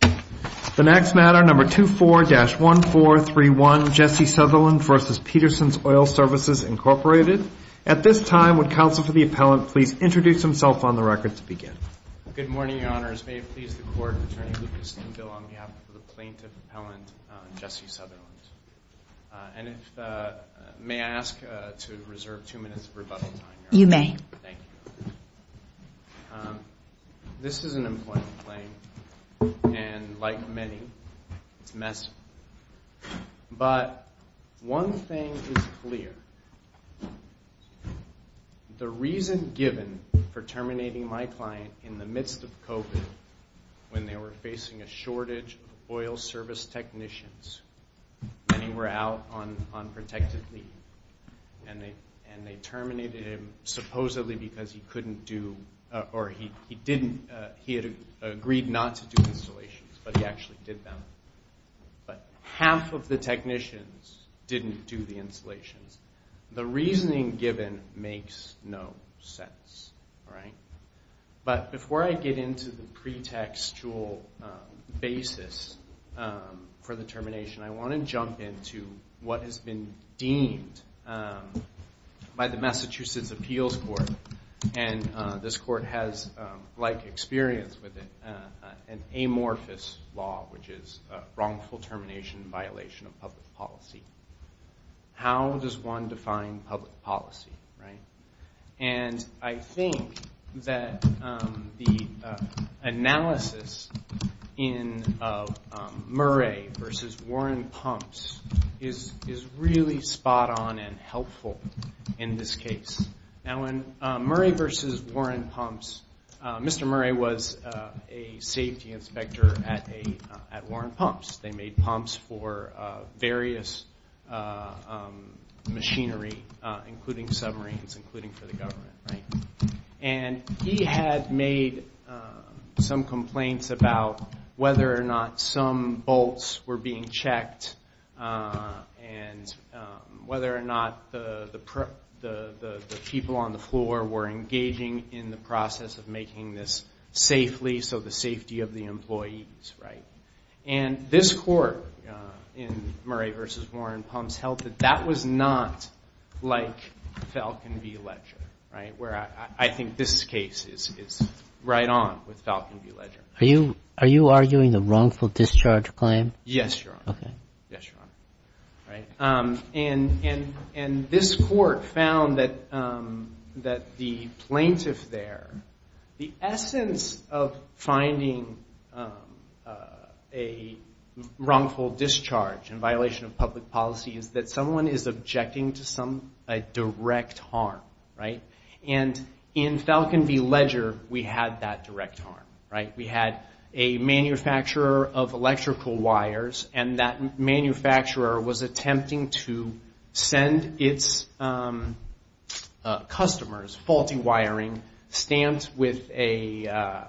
The next matter, number 24-1431, Jesse Sutherland v. Peterson's Oil Services, Incorporated. At this time, would counsel for the appellant please introduce himself on the record to begin? Good morning, Your Honors. May it please the Court, Attorney Lucas Stenville on behalf of the plaintiff, Appellant Jesse Sutherland. And if, may I ask to reserve two minutes of rebuttal time? You may. Thank you. This is an employment claim, and like many, it's messy. But one thing is clear. The reason given for terminating my client in the midst of COVID, when they were facing a shortage of oil service technicians, many were out on protected leave, and they terminated him supposedly because he couldn't do, or he didn't, he had agreed not to do installations, but he actually did them. But half of the technicians didn't do the installations. The reasoning given makes no sense, right? But before I get into the pretextual basis for the termination, I want to jump into what has been deemed by the Massachusetts Appeals Court. And this court has, like experience with it, an amorphous law, which is wrongful termination in violation of public policy. How does one define public policy, right? And I think that the analysis in Murray v. Warren Pumps is really spot on and helpful in this case. Now, in Murray v. Warren Pumps, Mr. Murray was a safety inspector at Warren Pumps. They made pumps for various machinery, including submarines, including for the government, right? And he had made some complaints about whether or not some bolts were being checked, and whether or not the people on the floor were engaging in the process of making this safely, so the safety of the employees, right? And this court in Murray v. Warren Pumps held that that was not like Falcon v. Ledger, right, where I think this case is right on with Falcon v. Ledger. Are you arguing the wrongful discharge claim? Yes, Your Honor. Okay. Yes, Your Honor. And this court found that the plaintiff there, the essence of finding a wrongful discharge in violation of public policy is that someone is objecting to some direct harm, right? And in Falcon v. Ledger, we had that direct harm, right? We had a manufacturer of electrical wires, and that manufacturer was attempting to send its customers faulty wiring, stamped with a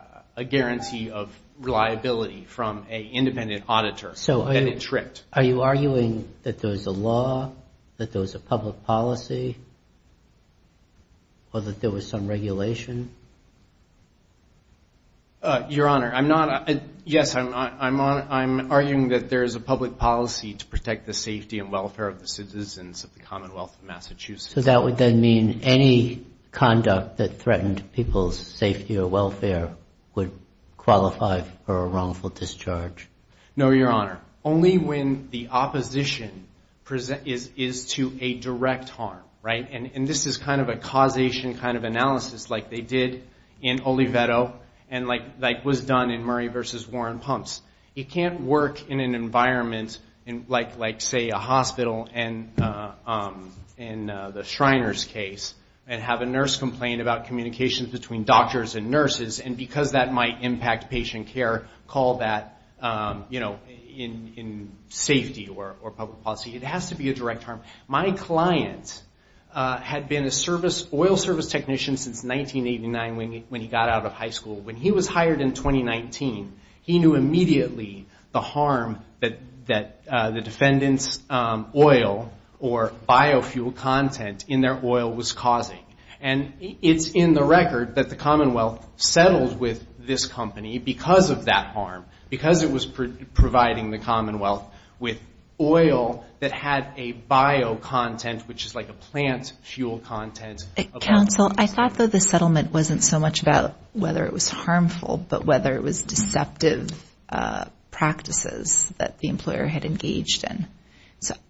guarantee of reliability from an independent auditor, and it tripped. So are you arguing that there was a law, that there was a public policy, or that there was some regulation? Your Honor, I'm not. Yes, I'm arguing that there is a public policy to protect the safety and welfare of the citizens of the Commonwealth of Massachusetts. So that would then mean any conduct that threatened people's safety or welfare would qualify for a wrongful discharge? No, Your Honor. Only when the opposition is to a direct harm, right? And this is kind of a causation kind of analysis, like they did in Oliveto, and like was done in Murray v. Warren Pumps. It can't work in an environment like, say, a hospital in the Shriners case, and have a nurse complain about communications between doctors and nurses, and because that might impact patient care, call that, you know, in safety or public policy. It has to be a direct harm. My client had been an oil service technician since 1989 when he got out of high school. When he was hired in 2019, he knew immediately the harm that the defendant's oil or biofuel content in their oil was causing. And it's in the record that the Commonwealth settled with this company because of that harm, because it was providing the Commonwealth with oil that had a biocontent, which is like a plant fuel content. Counsel, I thought that the settlement wasn't so much about whether it was harmful, but whether it was deceptive practices that the employer had engaged in.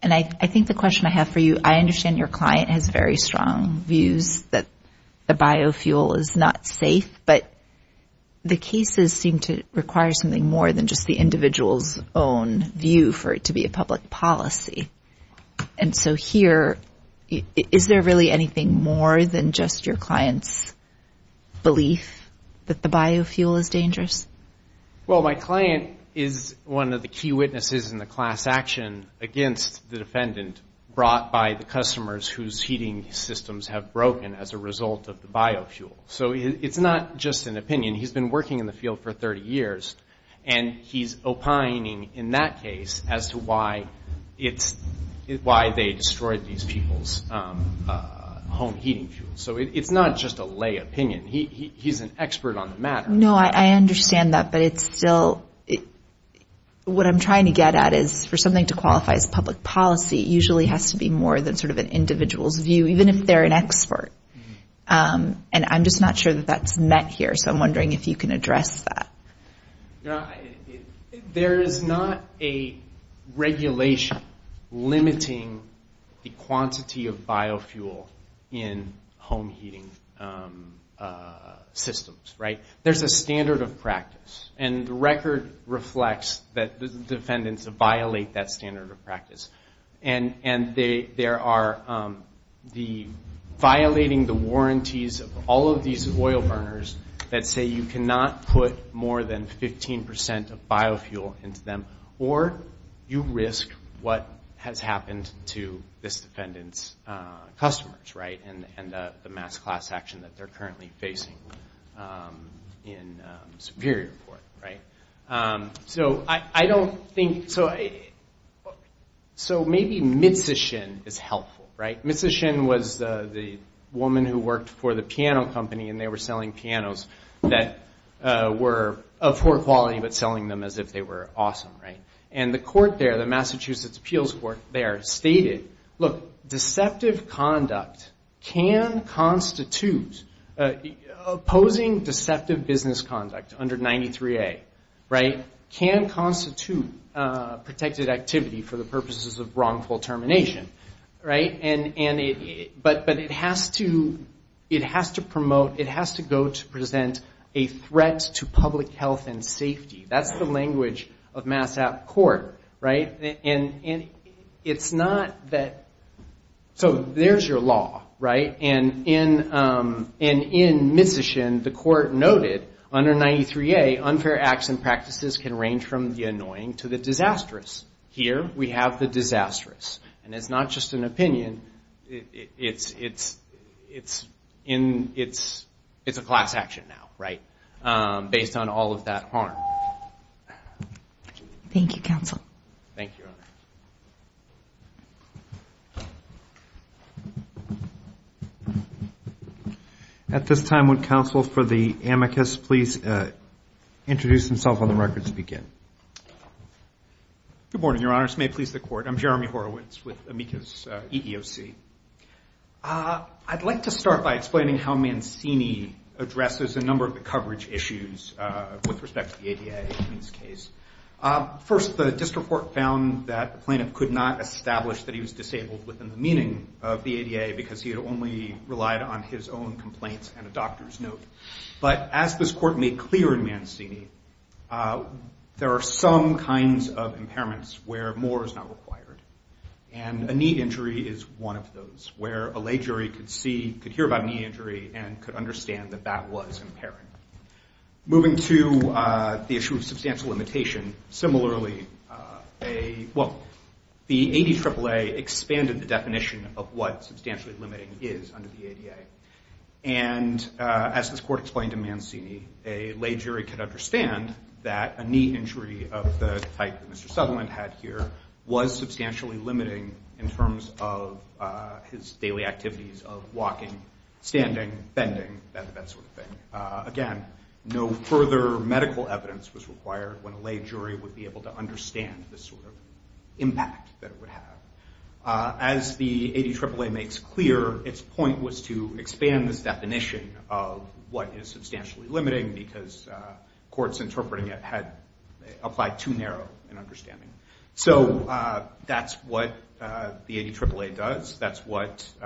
And I think the question I have for you, I understand your client has very strong views that the biofuel is not safe, but the cases seem to require something more than just the individual's own view for it to be a public policy. And so here, is there really anything more than just your client's belief that the biofuel is dangerous? Well, my client is one of the key witnesses in the class action against the defendant brought by the customers whose heating systems have broken as a result of the biofuel. So it's not just an opinion. He's been working in the field for 30 years, and he's opining in that case as to why they destroyed these people's home heating fuels. So it's not just a lay opinion. He's an expert on the matter. No, I understand that, but it's still – what I'm trying to get at is for something to qualify as public policy, it usually has to be more than sort of an individual's view, even if they're an expert. And I'm just not sure that that's met here, so I'm wondering if you can address that. There is not a regulation limiting the quantity of biofuel in home heating systems, right? There's a standard of practice, and the record reflects that the defendants violate that standard of practice. And there are – violating the warranties of all of these oil burners that say you cannot put more than 15 percent of biofuel into them, or you risk what has happened to this defendant's customers, right, and the mass class action that they're currently facing in Superior Court, right? So I don't think – so maybe Mitsishin is helpful, right? Mitsishin was the woman who worked for the piano company, and they were selling pianos that were of poor quality, but selling them as if they were awesome, right? And the court there, the Massachusetts Appeals Court there, stated, look, deceptive conduct can constitute – opposing deceptive business conduct under 93A, right, can constitute protected activity for the purposes of wrongful termination, right? And it – but it has to – it has to promote – it has to go to present a threat to public health and safety. That's the language of MassApp court, right? And it's not that – so there's your law, right? And in Mitsishin, the court noted, under 93A, unfair acts and practices can range from the annoying to the disastrous. Here, we have the disastrous. And it's not just an opinion. It's in – it's a class action now, right, based on all of that harm. Thank you, counsel. Thank you, Your Honor. At this time, would counsel for the amicus please introduce himself on the record to begin? Good morning, Your Honor. This may please the court. I'm Jeremy Horowitz with amicus EEOC. I'd like to start by explaining how Mancini addresses a number of the coverage issues with respect to the ADA in this case. First, the district court found that the plaintiff could not establish that he was disabled within the meaning of the ADA because he had only relied on his own complaints and a doctor's note. But as this court made clear in Mancini, there are some kinds of impairments where more is not required. And a knee injury is one of those where a lay jury could see – could hear about a knee injury and could understand that that was impairing. Moving to the issue of substantial limitation, similarly, a – well, the ADAAA expanded the definition of what substantially limiting is under the ADA. And as this court explained to Mancini, a lay jury could understand that a knee injury of the type that Mr. Sutherland had here was substantially limiting in terms of his daily activities of walking, standing, bending, that sort of thing. Again, no further medical evidence was required when a lay jury would be able to understand this sort of impact that it would have. As the ADAAA makes clear, its point was to expand this definition of what is substantially limiting because courts interpreting it had applied too narrow an understanding. So that's what the ADAAA does. That's what –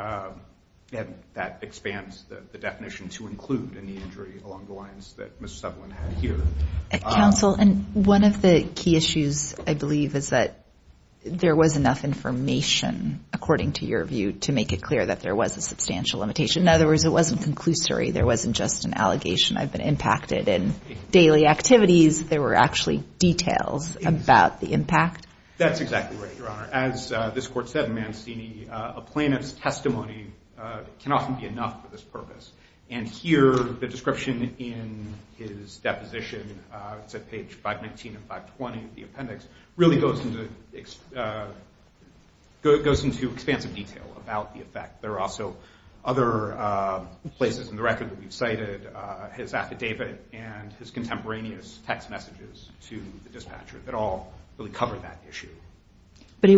and that expands the definition to include a knee injury along the lines that Mr. Sutherland had here. Counsel, and one of the key issues, I believe, is that there was enough information, according to your view, to make it clear that there was a substantial limitation. In other words, it wasn't conclusory. There wasn't just an allegation. I've been impacted in daily activities. There were actually details about the impact. That's exactly right, Your Honor. As this court said in Mancini, a plaintiff's testimony can often be enough for this purpose. And here, the description in his deposition, it's at page 519 and 520 of the appendix, really goes into expansive detail about the effect. There are also other places in the record that we've cited his affidavit and his contemporaneous text messages to the dispatcher that all really cover that issue. But it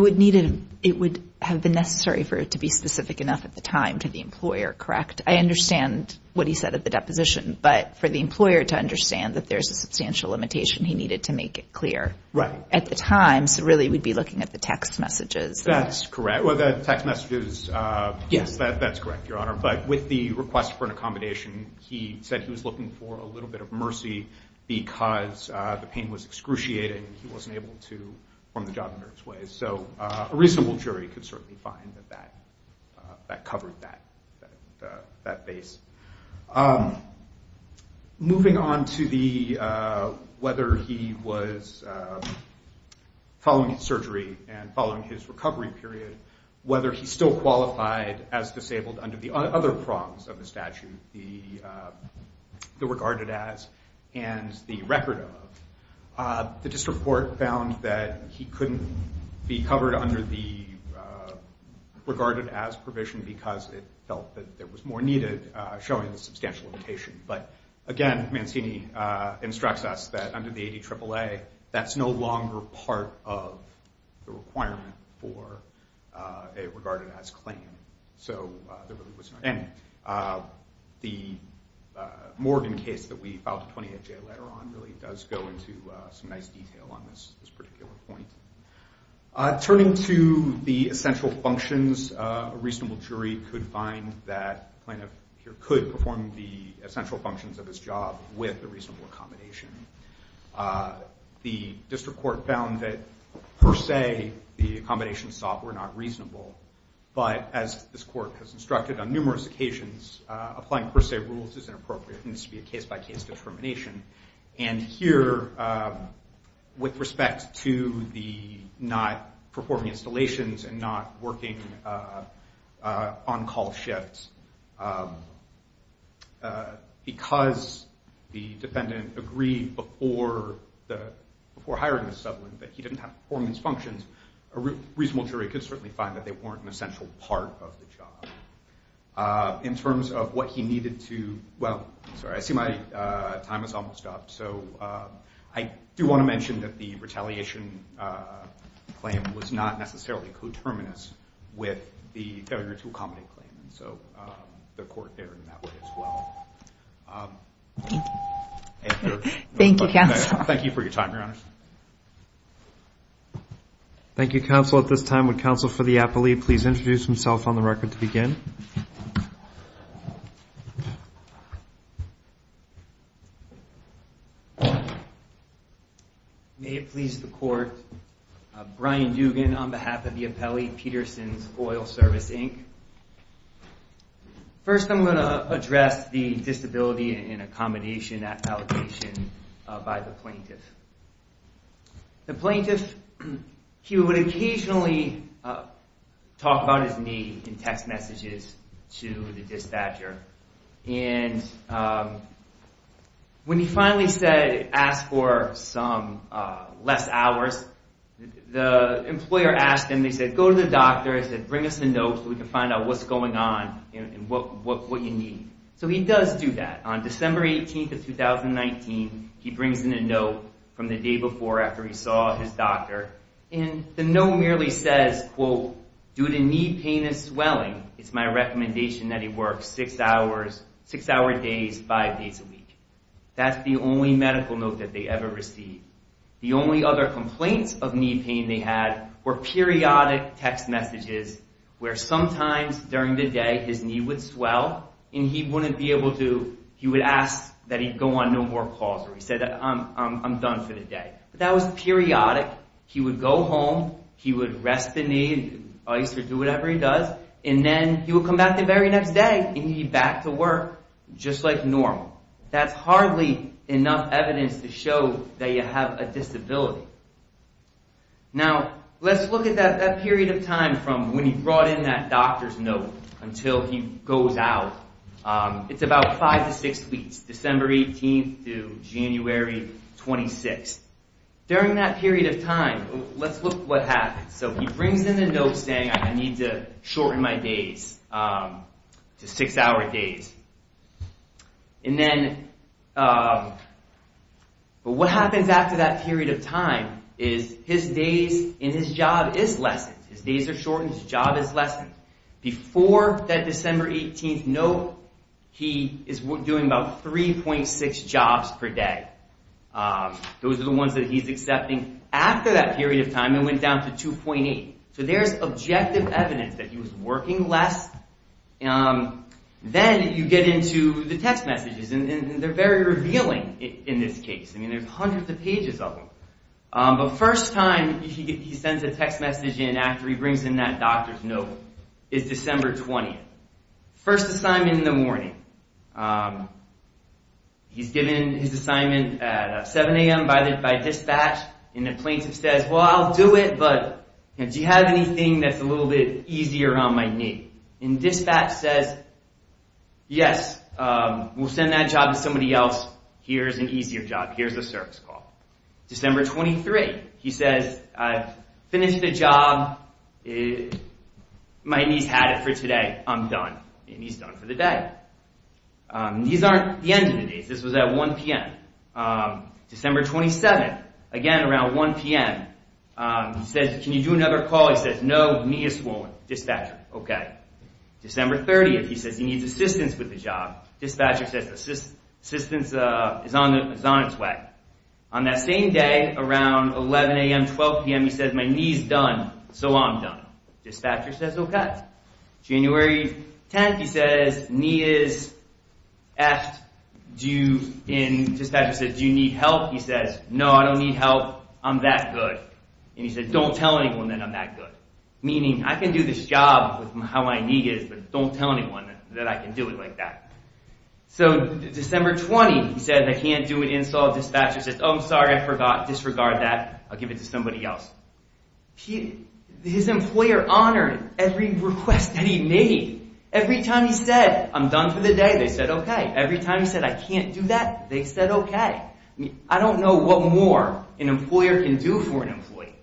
would have been necessary for it to be specific enough at the time to the employer, correct? I understand what he said at the deposition, but for the employer to understand that there's a substantial limitation, he needed to make it clear. Right. At the time, so really we'd be looking at the text messages. That's correct. Well, the text messages, yes, that's correct, Your Honor. But with the request for an accommodation, he said he was looking for a little bit of mercy because the pain was excruciating and he wasn't able to perform the job under his ways. So a reasonable jury could certainly find that that covered that base. Moving on to whether he was following surgery and following his recovery period, whether he still qualified as disabled under the other prongs of the statute, the regarded as and the record of, the district court found that he couldn't be covered under the regarded as provision because it felt that there was more needed showing the substantial limitation. But again, Mancini instructs us that under the 80 AAA, that's no longer part of the requirement for a regarded as claim. And the Morgan case that we filed at 28J later on really does go into some nice detail on this particular point. Turning to the essential functions, a reasonable jury could find that the plaintiff could perform the essential functions of his job with a reasonable accommodation. The district court found that per se, the accommodation sought were not reasonable. But as this court has instructed on numerous occasions, applying per se rules is inappropriate and this would be a case by case determination. And here, with respect to the not performing installations and not working on call shifts, because the defendant agreed before hiring the settlement that he didn't have performance functions, a reasonable jury could certainly find that they weren't an essential part of the job. In terms of what he needed to, well, sorry, I see my time is almost up. So I do want to mention that the retaliation claim was not necessarily coterminous with the failure to accommodate claim. So the court erred in that way as well. Thank you. Thank you, counsel. Thank you for your time, Your Honor. Thank you, counsel. At this time, would counsel for the appellee please introduce himself on the record to begin? May it please the court, Brian Dugan on behalf of the appellee, Peterson's Foil Service, Inc. First, I'm going to address the disability and accommodation allocation by the plaintiff. The plaintiff, he would occasionally talk about his need in text messages to the dispatcher. And when he finally asked for some less hours, the employer asked him, they said, go to the doctor, bring us a note so we can find out what's going on and what you need. So he does do that. On December 18th of 2019, he brings in a note from the day before after he saw his doctor. And the note merely says, quote, due to knee pain and swelling, it's my recommendation that he work six hour days, five days a week. That's the only medical note that they ever received. The only other complaints of knee pain they had were periodic text messages where sometimes during the day his knee would swell and he wouldn't be able to, he would ask that he go on no more calls. He said, I'm done for the day. But that was periodic. He would go home, he would rest the knee, ice or do whatever he does, and then he would come back the very next day and he'd be back to work just like normal. That's hardly enough evidence to show that you have a disability. Now, let's look at that period of time from when he brought in that doctor's note until he goes out. It's about five to six weeks, December 18th to January 26th. During that period of time, let's look at what happened. So he brings in a note saying I need to shorten my days to six hour days. But what happens after that period of time is his days and his job is lessened. His days are shortened, his job is lessened. Before that December 18th note, he is doing about 3.6 jobs per day. Those are the ones that he's accepting. After that period of time, it went down to 2.8. So there's objective evidence that he was working less. Then you get into the text messages, and they're very revealing in this case. I mean, there's hundreds of pages of them. But first time he sends a text message in after he brings in that doctor's note is December 20th. First assignment in the morning, he's given his assignment at 7 a.m. by dispatch, and the plaintiff says, well, I'll do it, but do you have anything that's a little bit easier on my knee? And dispatch says, yes, we'll send that job to somebody else. Here's an easier job. Here's a service call. December 23rd, he says, I've finished the job. My knee's had it for today. I'm done. And he's done for the day. These aren't the end of the days. This was at 1 p.m. December 27th, again, around 1 p.m., he says, can you do another call? He says, no, knee is swollen. Dispatcher, okay. December 30th, he says, he needs assistance with the job. Dispatcher says, assistance is on its way. On that same day, around 11 a.m., 12 p.m., he says, my knee's done, so I'm done. Dispatcher says, okay. January 10th, he says, knee is effed. Dispatcher says, do you need help? He says, no, I don't need help. I'm that good. And he says, don't tell anyone that I'm that good. Meaning, I can do this job with how my knee is, but don't tell anyone that I can do it like that. So December 20th, he says, I can't do it. Install a dispatcher. Says, oh, I'm sorry, I forgot. Disregard that. I'll give it to somebody else. His employer honored every request that he made. Every time he said, I'm done for the day, they said, okay. Every time he said, I can't do that, they said, okay. I don't know what more an employer can do for an employee.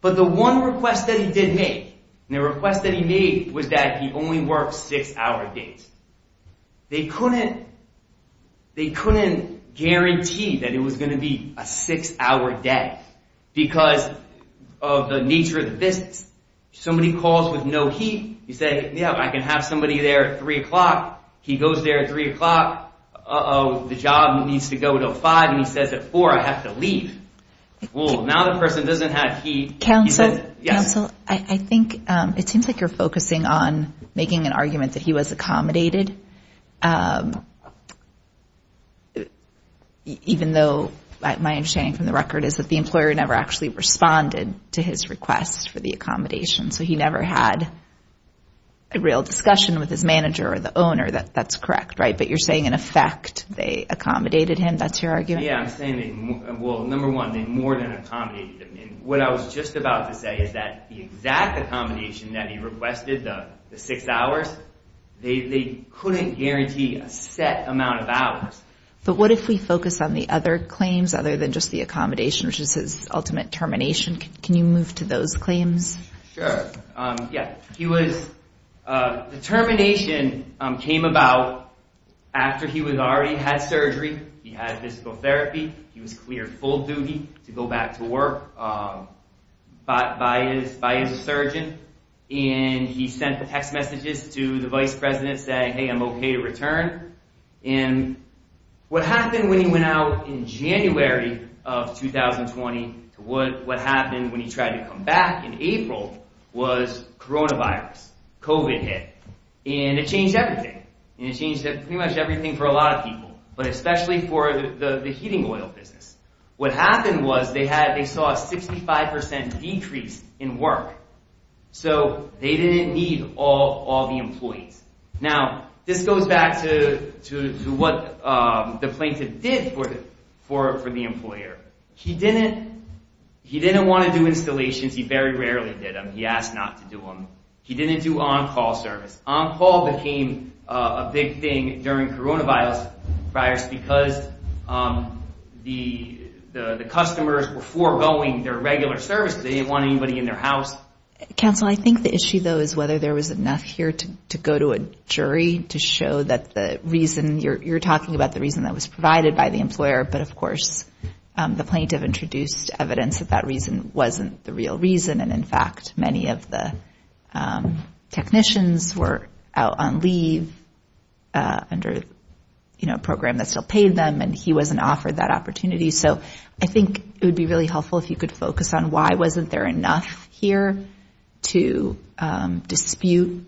But the one request that he did make, and the request that he made was that he only worked six-hour days. They couldn't guarantee that it was going to be a six-hour day because of the nature of the business. Somebody calls with no heat. You say, yeah, I can have somebody there at 3 o'clock. He goes there at 3 o'clock. Uh-oh, the job needs to go to 5, and he says at 4, I have to leave. Well, now the person doesn't have heat. Yes. Counsel, I think it seems like you're focusing on making an argument that he was accommodated, even though my understanding from the record is that the employer never actually responded to his request for the accommodation. So he never had a real discussion with his manager or the owner. That's correct, right? But you're saying, in effect, they accommodated him. That's your argument? Yeah, I'm saying, well, number one, they more than accommodated him. And what I was just about to say is that the exact accommodation that he requested, the six hours, they couldn't guarantee a set amount of hours. But what if we focus on the other claims other than just the accommodation, which is his ultimate termination? Can you move to those claims? Yeah, the termination came about after he had already had surgery. He had physical therapy. He was cleared full duty to go back to work by his surgeon. And he sent the text messages to the vice president saying, hey, I'm okay to return. And what happened when he went out in January of 2020, what happened when he tried to come back in April was coronavirus, COVID hit. And it changed everything. And it changed pretty much everything for a lot of people, but especially for the heating oil business. What happened was they saw a 65 percent decrease in work. So they didn't need all the employees. Now, this goes back to what the plaintiff did for the employer. He didn't want to do installations. He very rarely did them. He asked not to do them. He didn't do on-call service. On-call became a big thing during coronavirus because the customers were foregoing their regular service. They didn't want anybody in their house. Counsel, I think the issue, though, is whether there was enough here to go to a jury to show that the reason you're talking about, the reason that was provided by the employer. But, of course, the plaintiff introduced evidence that that reason wasn't the real reason. And, in fact, many of the technicians were out on leave under a program that still paid them, and he wasn't offered that opportunity. So I think it would be really helpful if you could focus on why wasn't there enough here to dispute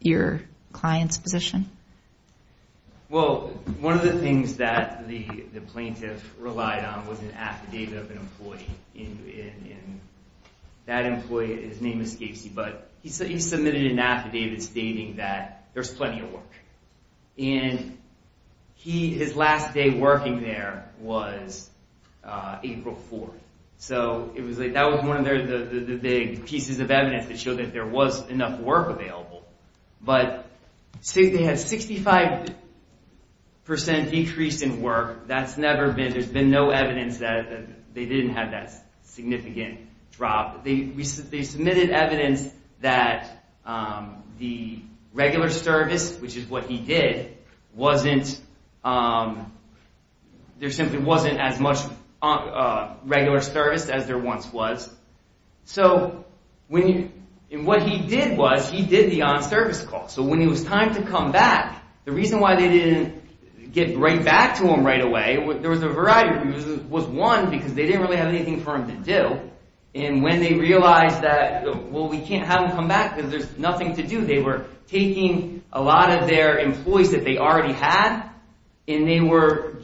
your client's position. Well, one of the things that the plaintiff relied on was an affidavit of an employee. And that employee, his name escapes you, but he submitted an affidavit stating that there's plenty of work. And his last day working there was April 4th. So that was one of the big pieces of evidence that showed that there was enough work available. But they had a 65% decrease in work. There's been no evidence that they didn't have that significant drop. They submitted evidence that the regular service, which is what he did, there simply wasn't as much regular service as there once was. And what he did was he did the on-service call. So when it was time to come back, the reason why they didn't get right back to him right away, there was a variety of reasons. One, because they didn't really have anything for him to do. And when they realized that, well, we can't have him come back because there's nothing to do, they were taking a lot of their employees that they already had, and they were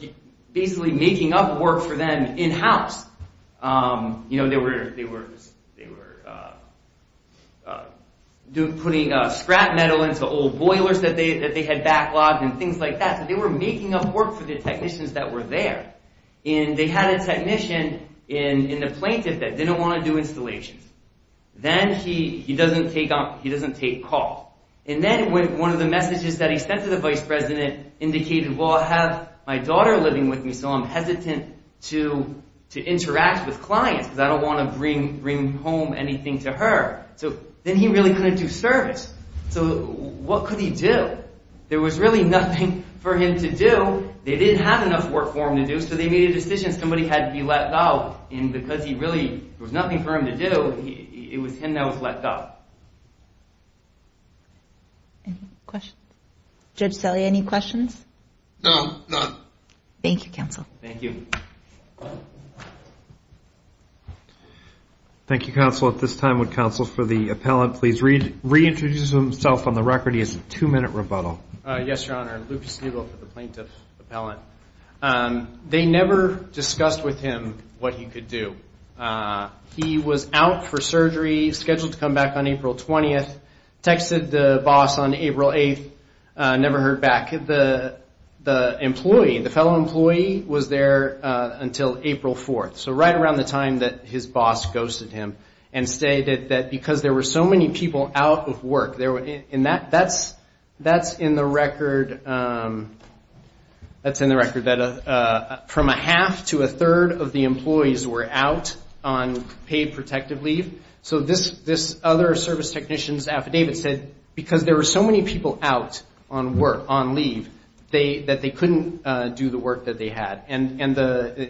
basically making up work for them in-house. They were putting scrap metal into old boilers that they had backlogged and things like that. So they were making up work for the technicians that were there. And they had a technician in the plaintiff that didn't want to do installations. Then he doesn't take calls. And then one of the messages that he sent to the vice president indicated, well, I have my daughter living with me, so I'm hesitant to interact with clients because I don't want to bring home anything to her. So then he really couldn't do service. So what could he do? There was really nothing for him to do. They didn't have enough work for him to do, so they made a decision. Somebody had to be let go. And because there was nothing for him to do, it was him that was let go. Any questions? Judge Selle, any questions? No, none. Thank you, counsel. Thank you. Thank you, counsel. At this time, would counsel for the appellant please reintroduce himself on the record? He has a two-minute rebuttal. Yes, Your Honor. Lucas Neagle for the plaintiff appellant. They never discussed with him what he could do. He was out for surgery, scheduled to come back on April 20th, texted the boss on April 8th, never heard back. The employee, the fellow employee, was there until April 4th, so right around the time that his boss ghosted him and stated that because there were so many people out of work, that's in the record that from a half to a third of the employees were out on paid protective leave. So this other service technician's affidavit said because there were so many people out on work, on leave, that they couldn't do the work that they had. And I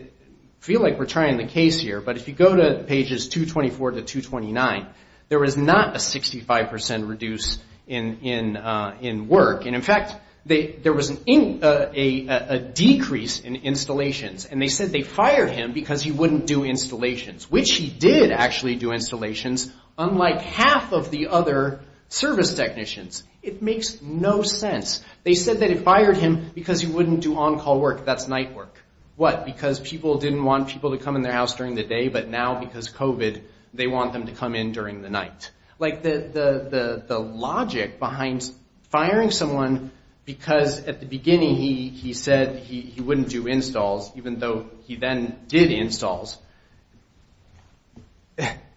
feel like we're trying the case here, but if you go to pages 224 to 229, there was not a 65% reduce in work. And, in fact, there was a decrease in installations, and they said they fired him because he wouldn't do installations, which he did actually do installations, unlike half of the other service technicians. It makes no sense. They said that they fired him because he wouldn't do on-call work. That's night work. What? Because people didn't want people to come in their house during the day, but now because of COVID, they want them to come in during the night. Like the logic behind firing someone because at the beginning he said he wouldn't do installs, even though he then did installs,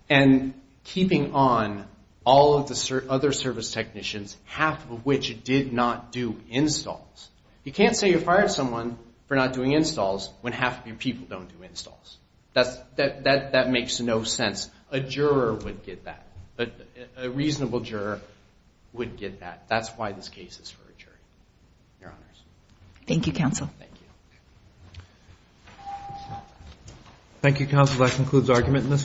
and keeping on all of the other service technicians, half of which did not do installs. You can't say you fired someone for not doing installs when half of your people don't do installs. That makes no sense. A juror would get that. A reasonable juror would get that. That's why this case is for a jury, Your Honors. Thank you, counsel. Thank you. Thank you, counsel. That concludes argument in this case.